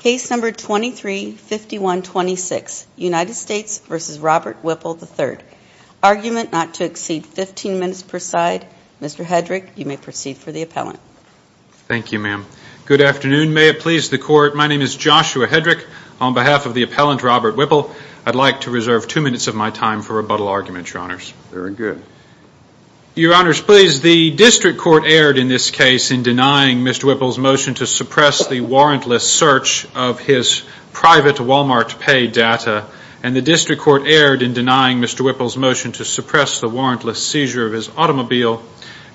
Case number 23-5126, United States v. Robert Whipple III. Argument not to exceed 15 minutes per side. Mr. Hedrick, you may proceed for the appellant. Thank you, ma'am. Good afternoon. May it please the court, my name is Joshua Hedrick. On behalf of the appellant, Robert Whipple, I'd like to reserve two minutes of my time for rebuttal arguments, your honors. Very good. Your honors, please, the district court erred in this case in denying Mr. Whipple's motion to suppress the warrantless search of his private Walmart pay data, and the district court erred in denying Mr. Whipple's motion to suppress the warrantless seizure of his automobile,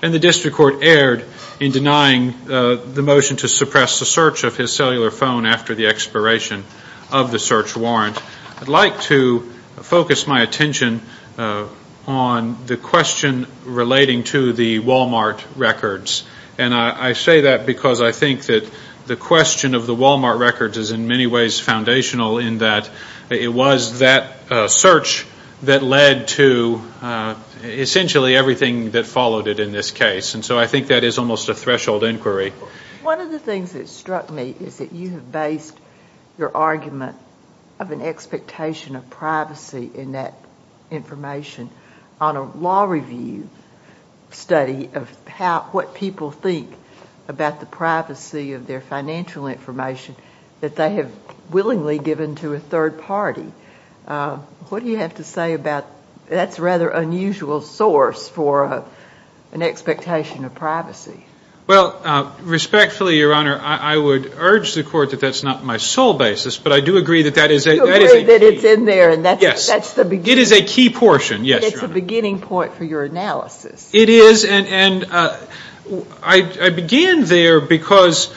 and the district court erred in denying the motion to suppress the search of his cellular phone after the expiration of the search warrant. I'd like to focus my attention on the question relating to the Walmart records. I say that because I think that the question of the Walmart records is in many ways foundational in that it was that search that led to essentially everything that followed it in this case. I think that is almost a threshold inquiry. One of the things that struck me is that you have based your argument of an expectation of privacy in that information on a law review study of what people think about the privacy of their financial information that they have willingly given to a third party. What do you have to say about that's a rather unusual source for an expectation of privacy? Well, respectfully, your honor, I would urge the court that that's not my sole basis, but I do agree that that is a key portion. You agree that it's in there, and that's the beginning point for your analysis. It is, and I begin there because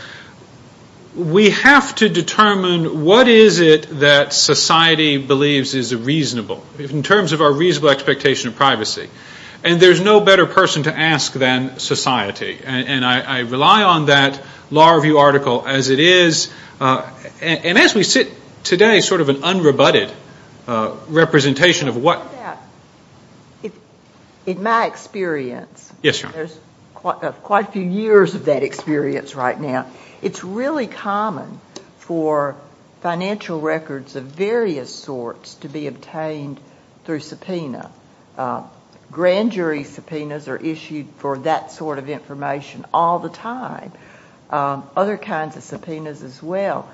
we have to determine what is it that society believes is reasonable in terms of our reasonable expectation of privacy. There's no better person to ask than society, and I rely on that law review article as it is, and as we sit today, sort of an unrebutted representation of what... In my experience, there's quite a few years of that experience right now, it's really common for financial records of various sorts to be obtained through subpoena. Grand jury subpoenas are issued for that sort of information all the time. Other kinds of subpoenas as well.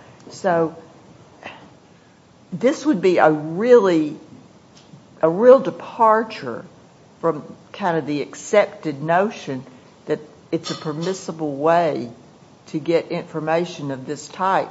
This would be a real departure from kind of the accepted notion that it's a permissible way to get information of this type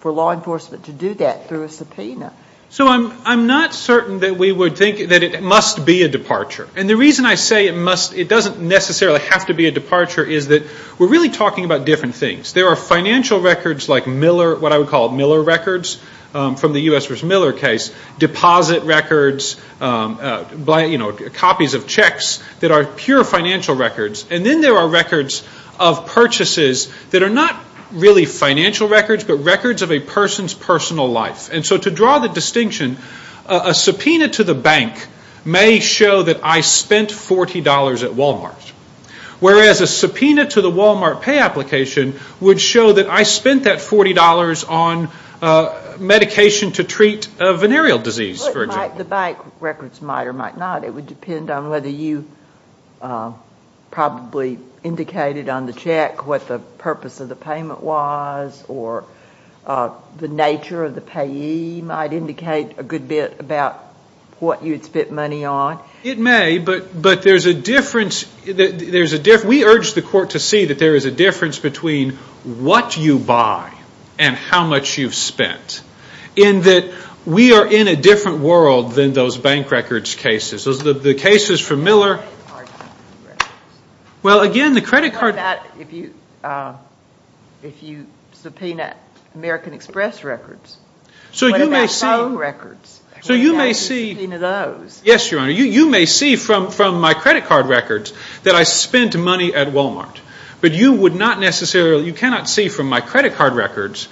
for law enforcement to do that through a subpoena. I'm not certain that we would think that it must be a departure, and the reason I say it doesn't necessarily have to be a departure is that we're really talking about different things. There are financial records like Miller, what I would call Miller records from the U.S. versus Miller case, deposit records, copies of checks that are pure financial records, and then there are records of purchases that are not really financial records, but records of a person's personal life. To draw the distinction, a subpoena to the bank may show that I spent $40 at Wal-Mart, whereas a subpoena to the Wal-Mart pay application would show that I spent that $40 on medication to treat venereal disease, for example. The bank records might or might not, it would depend on whether you probably indicated on the check what the purpose of the payment was, or the nature of the payee might indicate a good bit about what you'd spent money on. It may, but there's a difference. We urge the court to see that there is a difference between what you buy and how much you've spent, in that we are in a different world than those bank records cases. The cases for Miller, well, again, the credit card... What about if you subpoena American Express records? So you may see... What about phone records? So you may see... What about if you subpoena those? Yes, Your Honor, you may see from my credit card records that I spent money at Wal-Mart, but you would not necessarily, you cannot see from my credit card records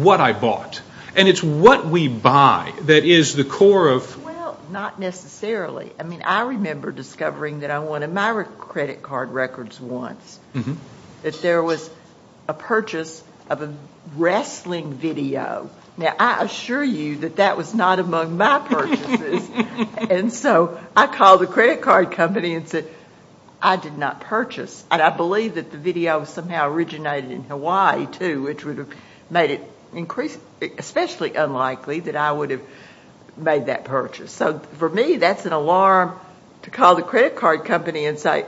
what I bought, and it's what we buy that is the core of... Well, not necessarily. I mean, I remember discovering that I wanted my credit card records once, that there was a purchase of a wrestling video. Now, I assure you that that was not among my purchases, and so I called the credit card company and said, I did not purchase, and I believe that the video somehow originated in Hawaii, too, which would have made it especially unlikely that I would have made that purchase. So for me, that's an alarm to call the credit card company and say,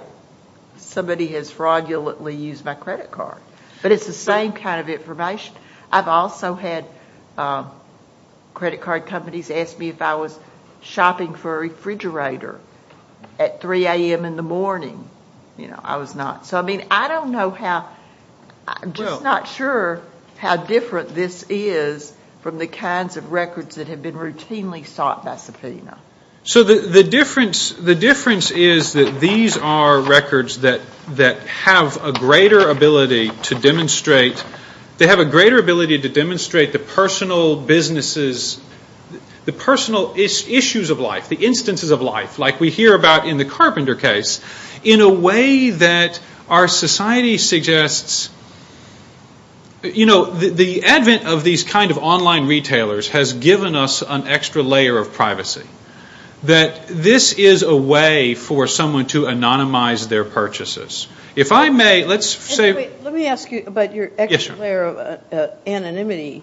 somebody has fraudulently used my credit card, but it's the same kind of information. I've also had credit card companies ask me if I was shopping for a refrigerator at 3 o'clock. I mean, I don't know how, I'm just not sure how different this is from the kinds of records that have been routinely sought by subpoena. So the difference is that these are records that have a greater ability to demonstrate the personal businesses, the personal issues of life, the instances of life, like we hear about in the carpenter case, in a way that our society suggests, you know, the advent of these kind of online retailers has given us an extra layer of privacy, that this is a way for someone to anonymize their purchases. If I may, let's say... Let me ask you about your extra layer of anonymity.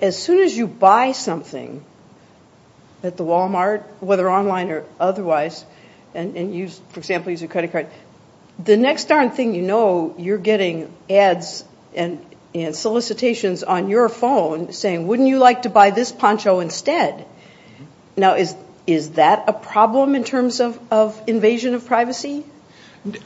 As soon as you buy something at the Wal-Mart, whether online or otherwise, and, for example, use your credit card, the next darn thing you know, you're getting ads and solicitations on your phone saying, wouldn't you like to buy this poncho instead? Now, is that a problem in terms of invasion of privacy?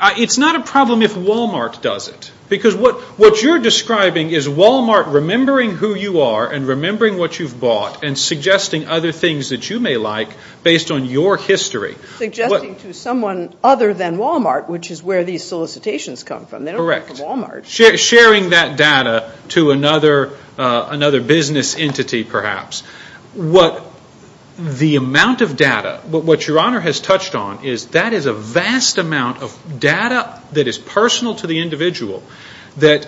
It's not a problem if Wal-Mart does it, because what you're describing is Wal-Mart remembering who you are and remembering what you've bought and suggesting other things that you may like based on your history. Suggesting to someone other than Wal-Mart, which is where these solicitations come from. Correct. They don't come from Wal-Mart. Sharing that data to another business entity, perhaps. The amount of data, what Your Honor has touched on, is that is a vast amount of data that is personal to the individual that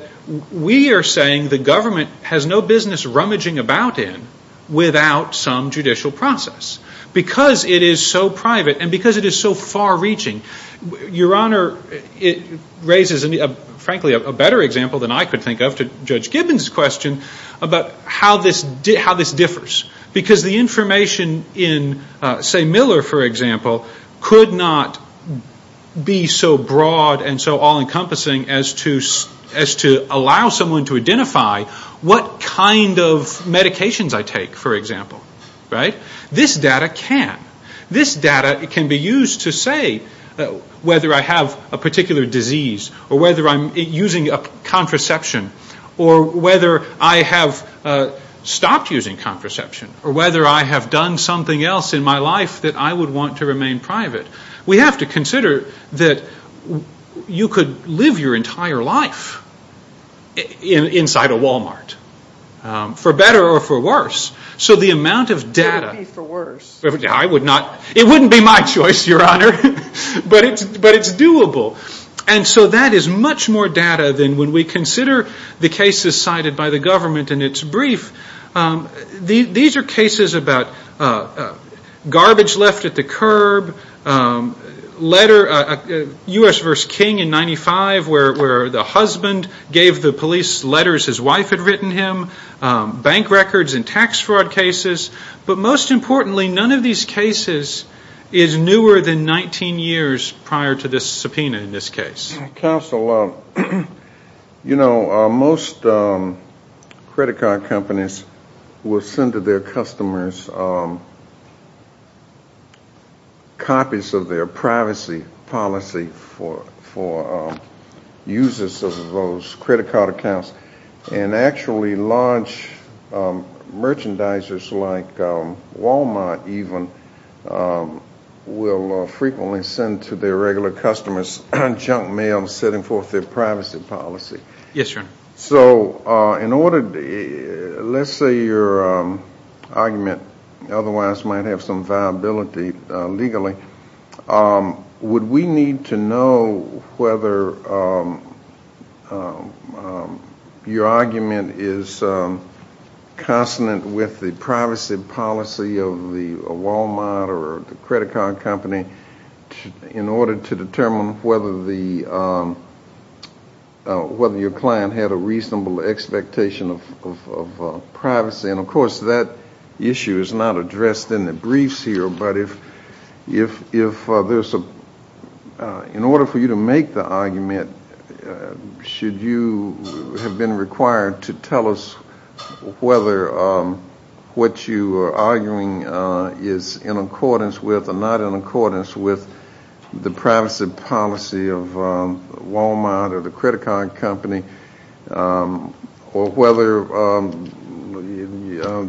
we are saying the government has no business rummaging about in without some judicial process. Because it is so private and because it is so far-reaching, Your Honor, it raises, frankly, a better example than I could think of to Judge Gibbons' question about how this differs. Because the information in, say, Miller, for example, could not be so broad and so all-encompassing as to allow someone to identify what kind of medications I take, for example. This data can. This data can be used to say whether I have a particular disease or whether I'm using a contraception or whether I have stopped using contraception or whether I have done something else in my life that I would want to remain private. We have to consider that you could live your entire life inside a Wal-Mart, for better or for worse. So the amount of data... It would be for worse. I would not. It wouldn't be my choice, Your Honor, but it's doable. And so that is much more data than when we consider the cases cited by the government in its brief. These are cases about garbage left at the curb, letter... U.S. v. King in 95 where the husband gave the police letters his wife had written him, bank records and tax fraud cases. But most importantly, none of these cases is newer than 19 years prior to this subpoena in this case. Counsel, you know, most credit card companies will send to their customers copies of their privacy policy for users of those credit card accounts. And actually large merchandisers like Wal-Mart even will frequently send to their regular customers junk mail setting forth their privacy policy. Yes, Your Honor. So in order... Let's say your argument otherwise might have some viability legally. Would we need to know whether your argument is consonant with the privacy policy of the Wal-Mart or the credit card company in order to determine whether your client had a reasonable expectation of privacy? And of course that issue is not addressed in the briefs here, but if there's a... In order for you to make the argument, should you have been required to tell us whether what you are arguing is in accordance with or not in accordance with the privacy policy of Wal-Mart or the credit card company or whether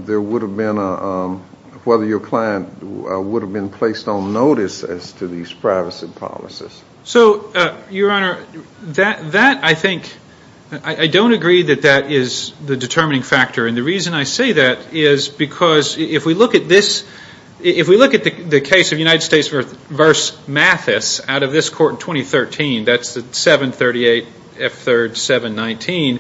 there would have been a... Whether your client would have been placed on notice as to these privacy policies? So, Your Honor, that I think... I don't agree that that is the determining factor. And the reason I say that is because if we look at this... If we look at the case of United States v. Mathis out of this court in 2013, that's the 738 F3rd 719.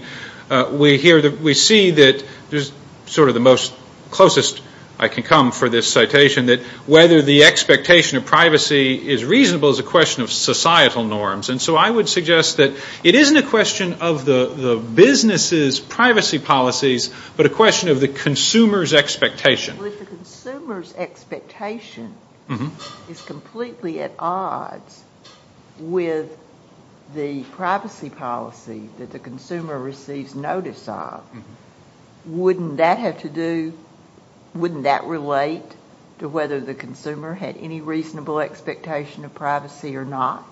We see that there's sort of the most closest I can come for this citation, that whether the expectation of privacy is reasonable is a question of societal norms. And so I would suggest that it isn't a question of the business's privacy policies, but a question of the consumer's expectation. Well, if the consumer's expectation is completely at odds with the privacy policy that the consumer receives notice of, wouldn't that have to do... Wouldn't that relate to whether the consumer had any reasonable expectation of privacy or not?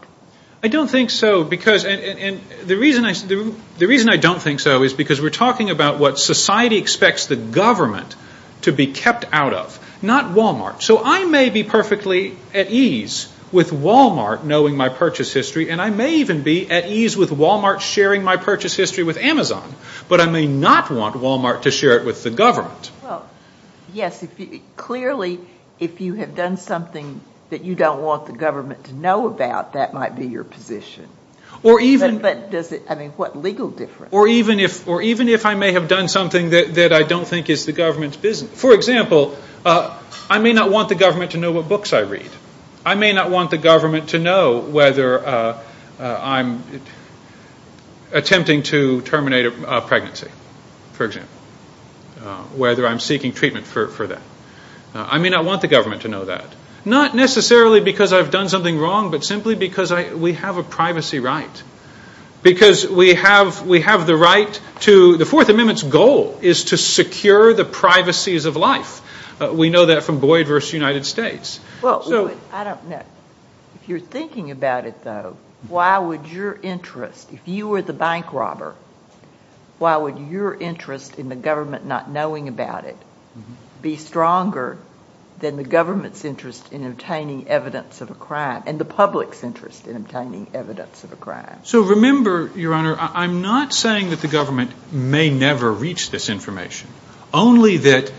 I don't think so because... And the reason I don't think so is because we're talking about what society expects the government to be kept out of, not Wal-Mart. So I may be perfectly at ease with Wal-Mart knowing my purchase history, and I may even be at ease with Wal-Mart sharing my purchase history with Amazon, but I may not want Wal-Mart to share it with the government. Well, yes. Clearly, if you have done something that you don't want the government to know about, that might be your position. Or even... But does it... I mean, what legal difference? Or even if I may have done something that I don't think is the government's business... For example, I may not want the government to know what books I read. I may not want the government to know whether I'm attempting to terminate a pregnancy, for example. Whether I'm seeking treatment for that. I may not want the government to know that. Not necessarily because I've done something wrong, but simply because we have a privacy right. Because we have the right to... The Fourth Amendment's goal is to secure the privacies of life. We know that from Boyd v. United States. I don't know. If you're thinking about it, though, why would your interest, if you were the bank robber, why would your interest in the government not knowing about it be stronger than the government's interest in obtaining evidence of a crime, and the public's interest in obtaining evidence of a crime? So remember, Your Honor, I'm not saying that the government may never reach this information. Only that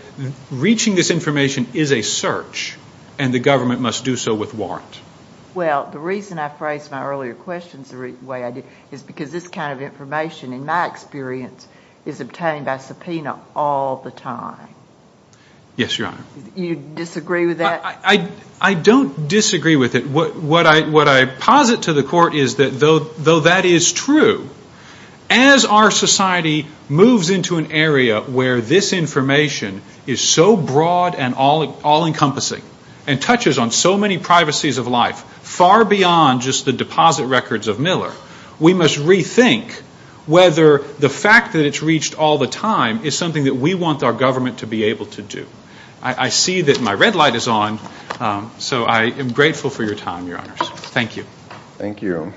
reaching this information is a search, and the government must do so with warrant. Well, the reason I phrased my earlier questions the way I did is because this kind of information, in my experience, is obtained by subpoena all the time. Yes, Your Honor. You disagree with that? I don't disagree with it. What I posit to the Court is that though that is true, as our society moves into an area where this information is so broad and all-encompassing, and touches on so many privacies of life, far beyond just the deposit records of Miller, we must rethink whether the fact that it's reached all the time is something that we want our government to be able to do. I see that my red light is on, so I am grateful for your time, Your Honors. Thank you. Thank you.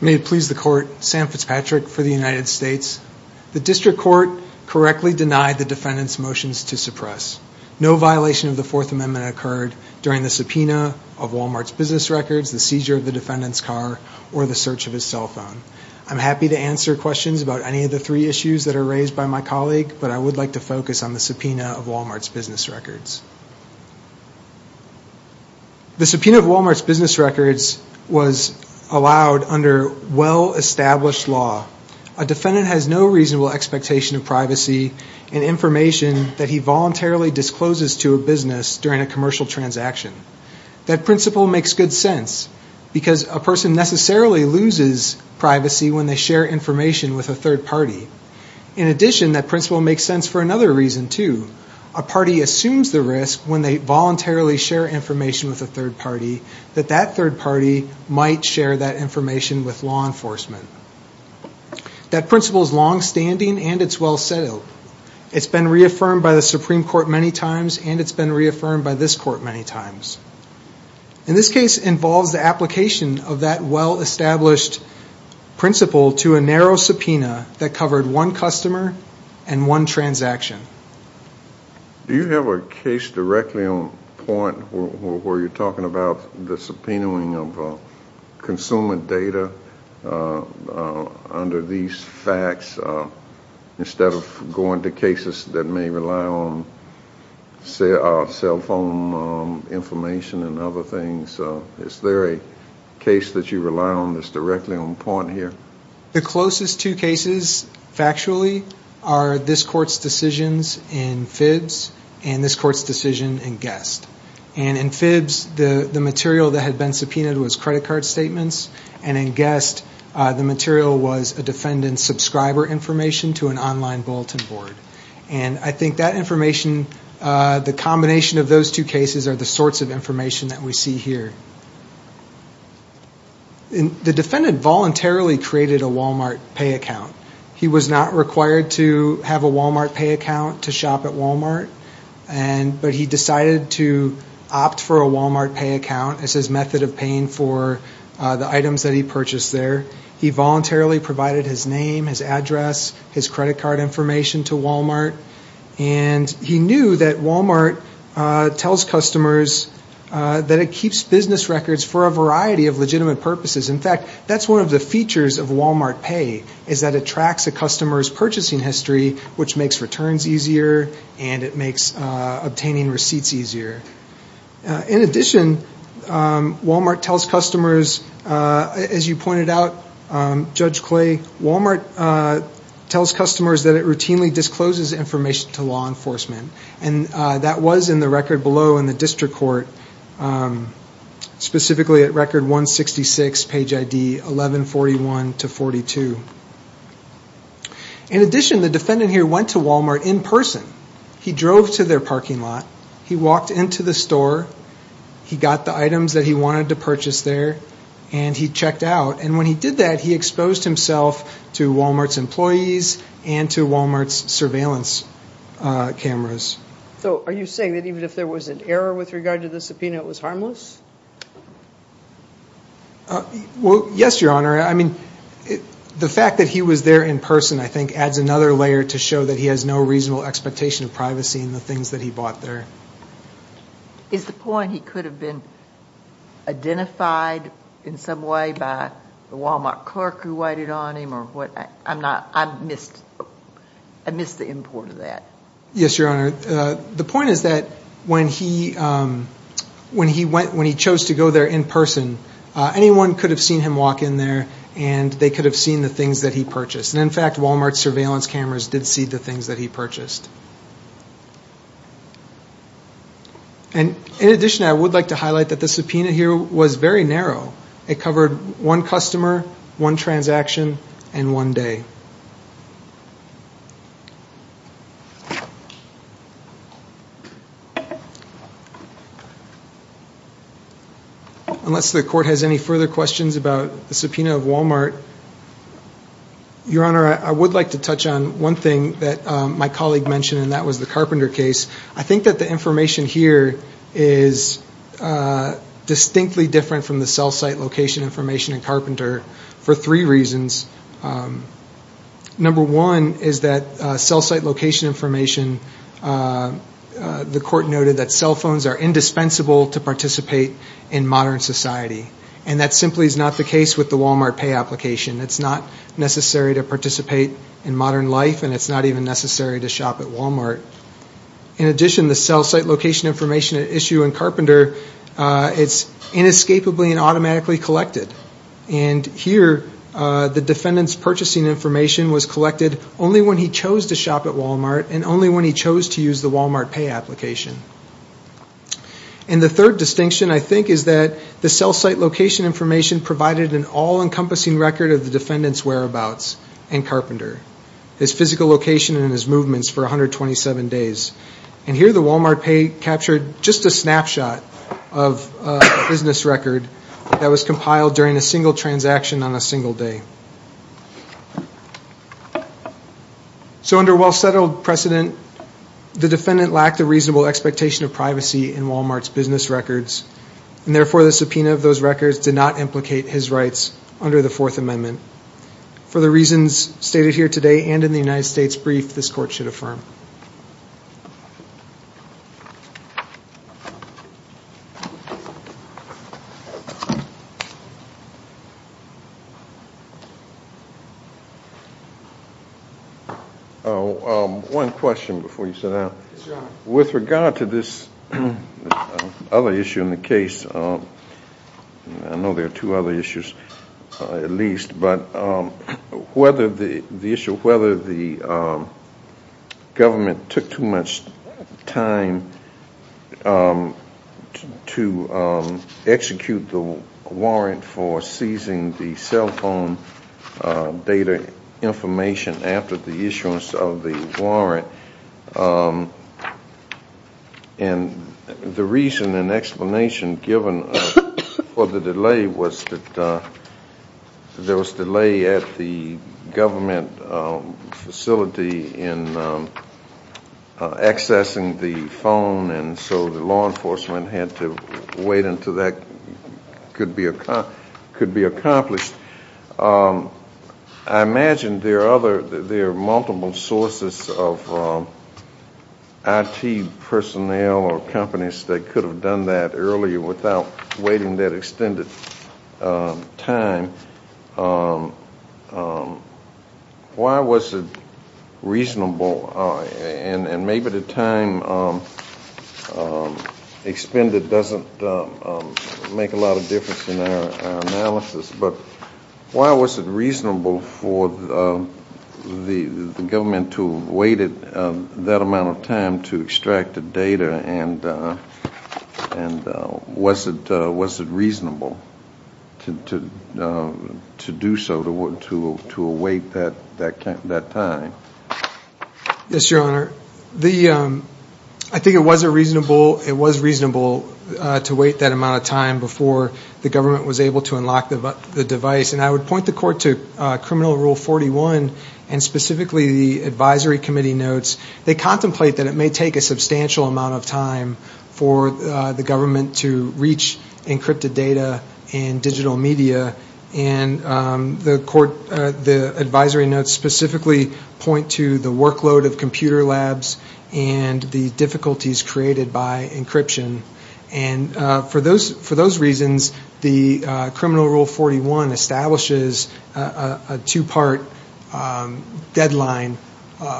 May it please the Court, Sam Fitzpatrick for the United States. The District Court correctly denied the defendant's motions to suppress. No violation of the Fourth Amendment occurred during the subpoena of Walmart's business records, the seizure of the defendant's car, or the search of his cell phone. I'm happy to answer questions about any of the three issues that are raised by my colleague, but I would like to focus on the subpoena of Walmart's business records. The subpoena of Walmart's business records was allowed under well-established law. A defendant has no reasonable expectation of privacy and information that he voluntarily discloses to a business during a commercial transaction. That principle makes good sense, because a person necessarily loses privacy when they share information with a third party. In addition, that principle makes sense for another reason, too. A party assumes the risk when they voluntarily share information with a third party that that third party might share that information with law enforcement. That principle is long-standing, and it's well-settled. It's been reaffirmed by the Supreme Court many times, and it's been reaffirmed by this Court many times. In this case, it involves the application of that well-established principle to a narrow subpoena that covered one customer and one transaction. Do you have a case directly on point where you're talking about the subpoenaing of consumer data, under these facts, instead of going to cases that may rely on cell phone information and other things? Is there a case that you rely on that's directly on point here? The closest two cases, factually, are this Court's decisions in FIBS and this Court's decision in Guest. In FIBS, the material that had been subpoenaed was credit card statements, and in Guest, the material was a defendant's subscriber information to an online bulletin board. And I think that information, the combination of those two cases, are the sorts of information that we see here. The defendant voluntarily created a Walmart pay account. He was not required to have a Walmart pay account to shop at Walmart, but he decided to opt for a Walmart pay account as his method of paying for the items that he purchased there. He voluntarily provided his name, his address, his credit card information to Walmart, and he knew that Walmart tells customers that it keeps business records for a variety of legitimate purposes. In fact, that's one of the features of Walmart pay, is that it tracks a customer's purchasing history, which makes returns easier, and it makes obtaining receipts easier. In addition, Walmart tells customers, as you pointed out, Judge Clay, Walmart tells customers that it routinely discloses information to law enforcement. And that was in the record below in the district court, specifically at record 166, page ID 1141-42. In addition, the defendant here went to Walmart in person. He drove to their parking lot, he walked into the store, he got the items that he wanted to purchase there, and he checked out. And when he did that, he exposed himself to Walmart's employees and to Walmart's surveillance cameras. So are you saying that even if there was an error with regard to the subpoena, it was harmless? Well, yes, Your Honor. I mean, the fact that he was there in person, I think, adds another layer to show that he has no reasonable expectation of privacy in the things that he bought there. Is the point he could have been identified in some way by the Walmart clerk who waited on him? I missed the import of that. Yes, Your Honor. The point is that when he chose to go there in person, anyone could have seen him walk in there and they could have seen the things that he purchased. And in fact, Walmart's surveillance cameras did see the things that he purchased. And in addition, I would like to highlight that the subpoena here was very narrow. It covered one customer, one transaction, and one day. Unless the Court has any further questions about the subpoena of Walmart. Your Honor, I would like to touch on one thing that my colleague mentioned, and that was the Carpenter case. I think that the information here is distinctly different from the cell site location information in Carpenter for three reasons. Number one is that cell site location information, the Court noted that cell phones are indispensable to participate in modern society. And that simply is not the case with the Walmart pay application. It's not necessary to participate in modern life, and it's not even necessary to shop at Walmart. In addition, the cell site location information at issue in Carpenter, it's inescapably and automatically collected. And here, the defendant's purchasing information was collected only when he chose to shop at Walmart, and only when he chose to use the Walmart pay application. And the third distinction, I think, is that the cell site location information provided an all-encompassing record of the defendant's whereabouts in Carpenter. His physical location and his movements for 127 days. And here, the Walmart pay captured just a snapshot of a business record that was compiled during a single transaction on a single day. So under well-settled precedent, the defendant lacked a reasonable expectation of privacy in Walmart's business records. And therefore, the subpoena of those records did not implicate his rights under the Fourth Amendment. For the reasons stated here today and in the United States Brief, this Court should affirm. Oh, one question before you sit down. Yes, Your Honor. With regard to this other issue in the case, I know there are two other issues at least, but whether the issue, whether the government took too much time to execute the warrant for seizing the cell phone data information after the issuance of the warrant, and the reason and explanation given for the delay was that there was delay at the government facility in accessing the phone, and so the law enforcement had to wait until that could be accomplished. I imagine there are other, there are multiple sources of IT personnel or companies that could have done that earlier without waiting that extended time. Why was it reasonable, and maybe the time expended doesn't make a lot of difference in our analysis, but why was it reasonable for the government to have waited that amount of time to extract the data, and was it reasonable to do so, to await that time? Yes, Your Honor. The, I think it was reasonable to wait that amount of time before the government was able to unlock the device, and I would point the Court to Criminal Rule 41, and specifically the advisory committee notes. They contemplate that it may take a substantial amount of time for the government to reach encrypted data and digital media, and the court, the advisory notes specifically point to the workload of computer labs and the difficulties created by encryption. And for those reasons, the Criminal Rule 41 establishes a two-part deadline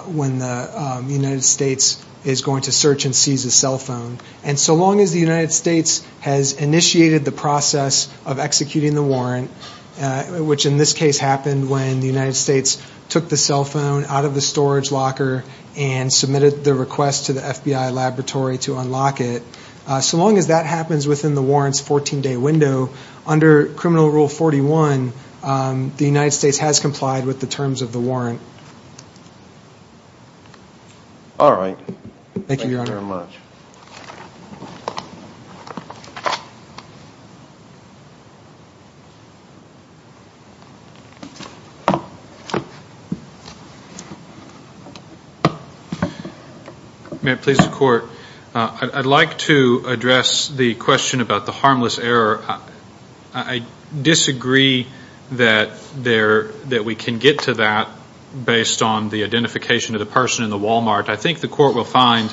when the United States is going to search and seize a cell phone, and so long as the United States has initiated the process of executing the warrant, which in this case happened when the United States took the cell phone out of the storage locker and submitted the request to the FBI laboratory to unlock it, so long as that happens within the warrant's 14-day window, under Criminal Rule 41, the United States has complied with the terms of the warrant. All right. Thank you, Your Honor. Thank you very much. May it please the Court, I'd like to address the question about the harmless error. I disagree that there, that we can get to that based on the identification of the person in the Walmart. I think the Court will find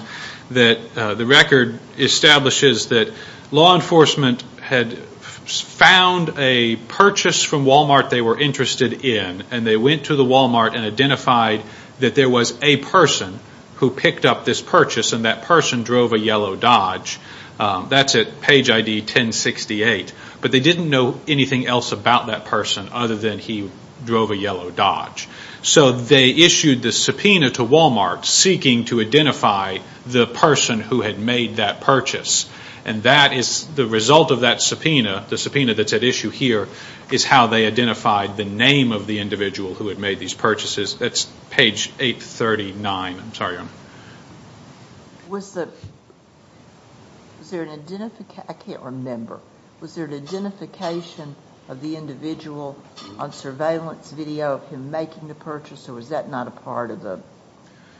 that the record establishes that law enforcement had found a purchase from Walmart they were interested in, and they went to the Walmart and identified that there was a person who picked up this purchase, and that person drove a yellow Dodge. That's at page ID 1068. But they didn't know anything else about that person other than he drove a yellow Dodge. So they issued the subpoena to Walmart, seeking to identify the person who had made that purchase. And that is the result of that subpoena. The subpoena that's at issue here is how they identified the name of the individual who had made these purchases. That's page 839. I'm sorry, Your Honor. Was there an identification, I can't remember. Was there an identification of the individual on surveillance video of him making the purchase, or was that not a part of the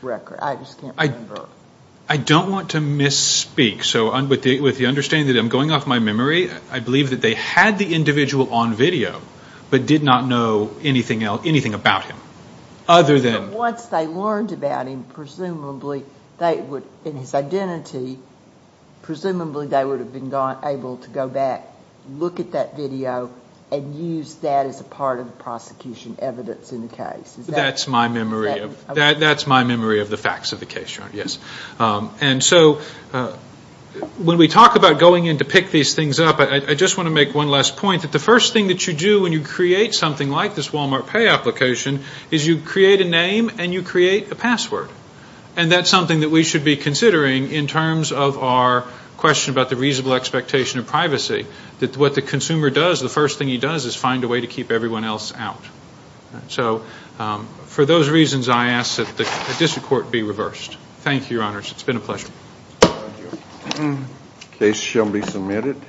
record? I just can't remember. I don't want to misspeak. So with the understanding that I'm going off my memory, I believe that they had the individual on video, but did not know anything else, anything about him. Other than... But once they learned about him, presumably they would, in his identity, presumably they would have been able to go back, look at that video, and use that as a part of the prosecution evidence in the case. That's my memory. That's my memory of the facts of the case, Your Honor, yes. And so when we talk about going in to pick these things up, I just want to make one last point, that the first thing that you do when you create something like this Walmart Pay application is you create a name and you create a password. And that's something that we should be considering in terms of our question about the reasonable expectation of privacy, that what the consumer does, the first thing he does, is find a way to keep everyone else out. So for those reasons, I ask that the district court be reversed. Thank you, Your Honors. It's been a pleasure. The case shall be submitted.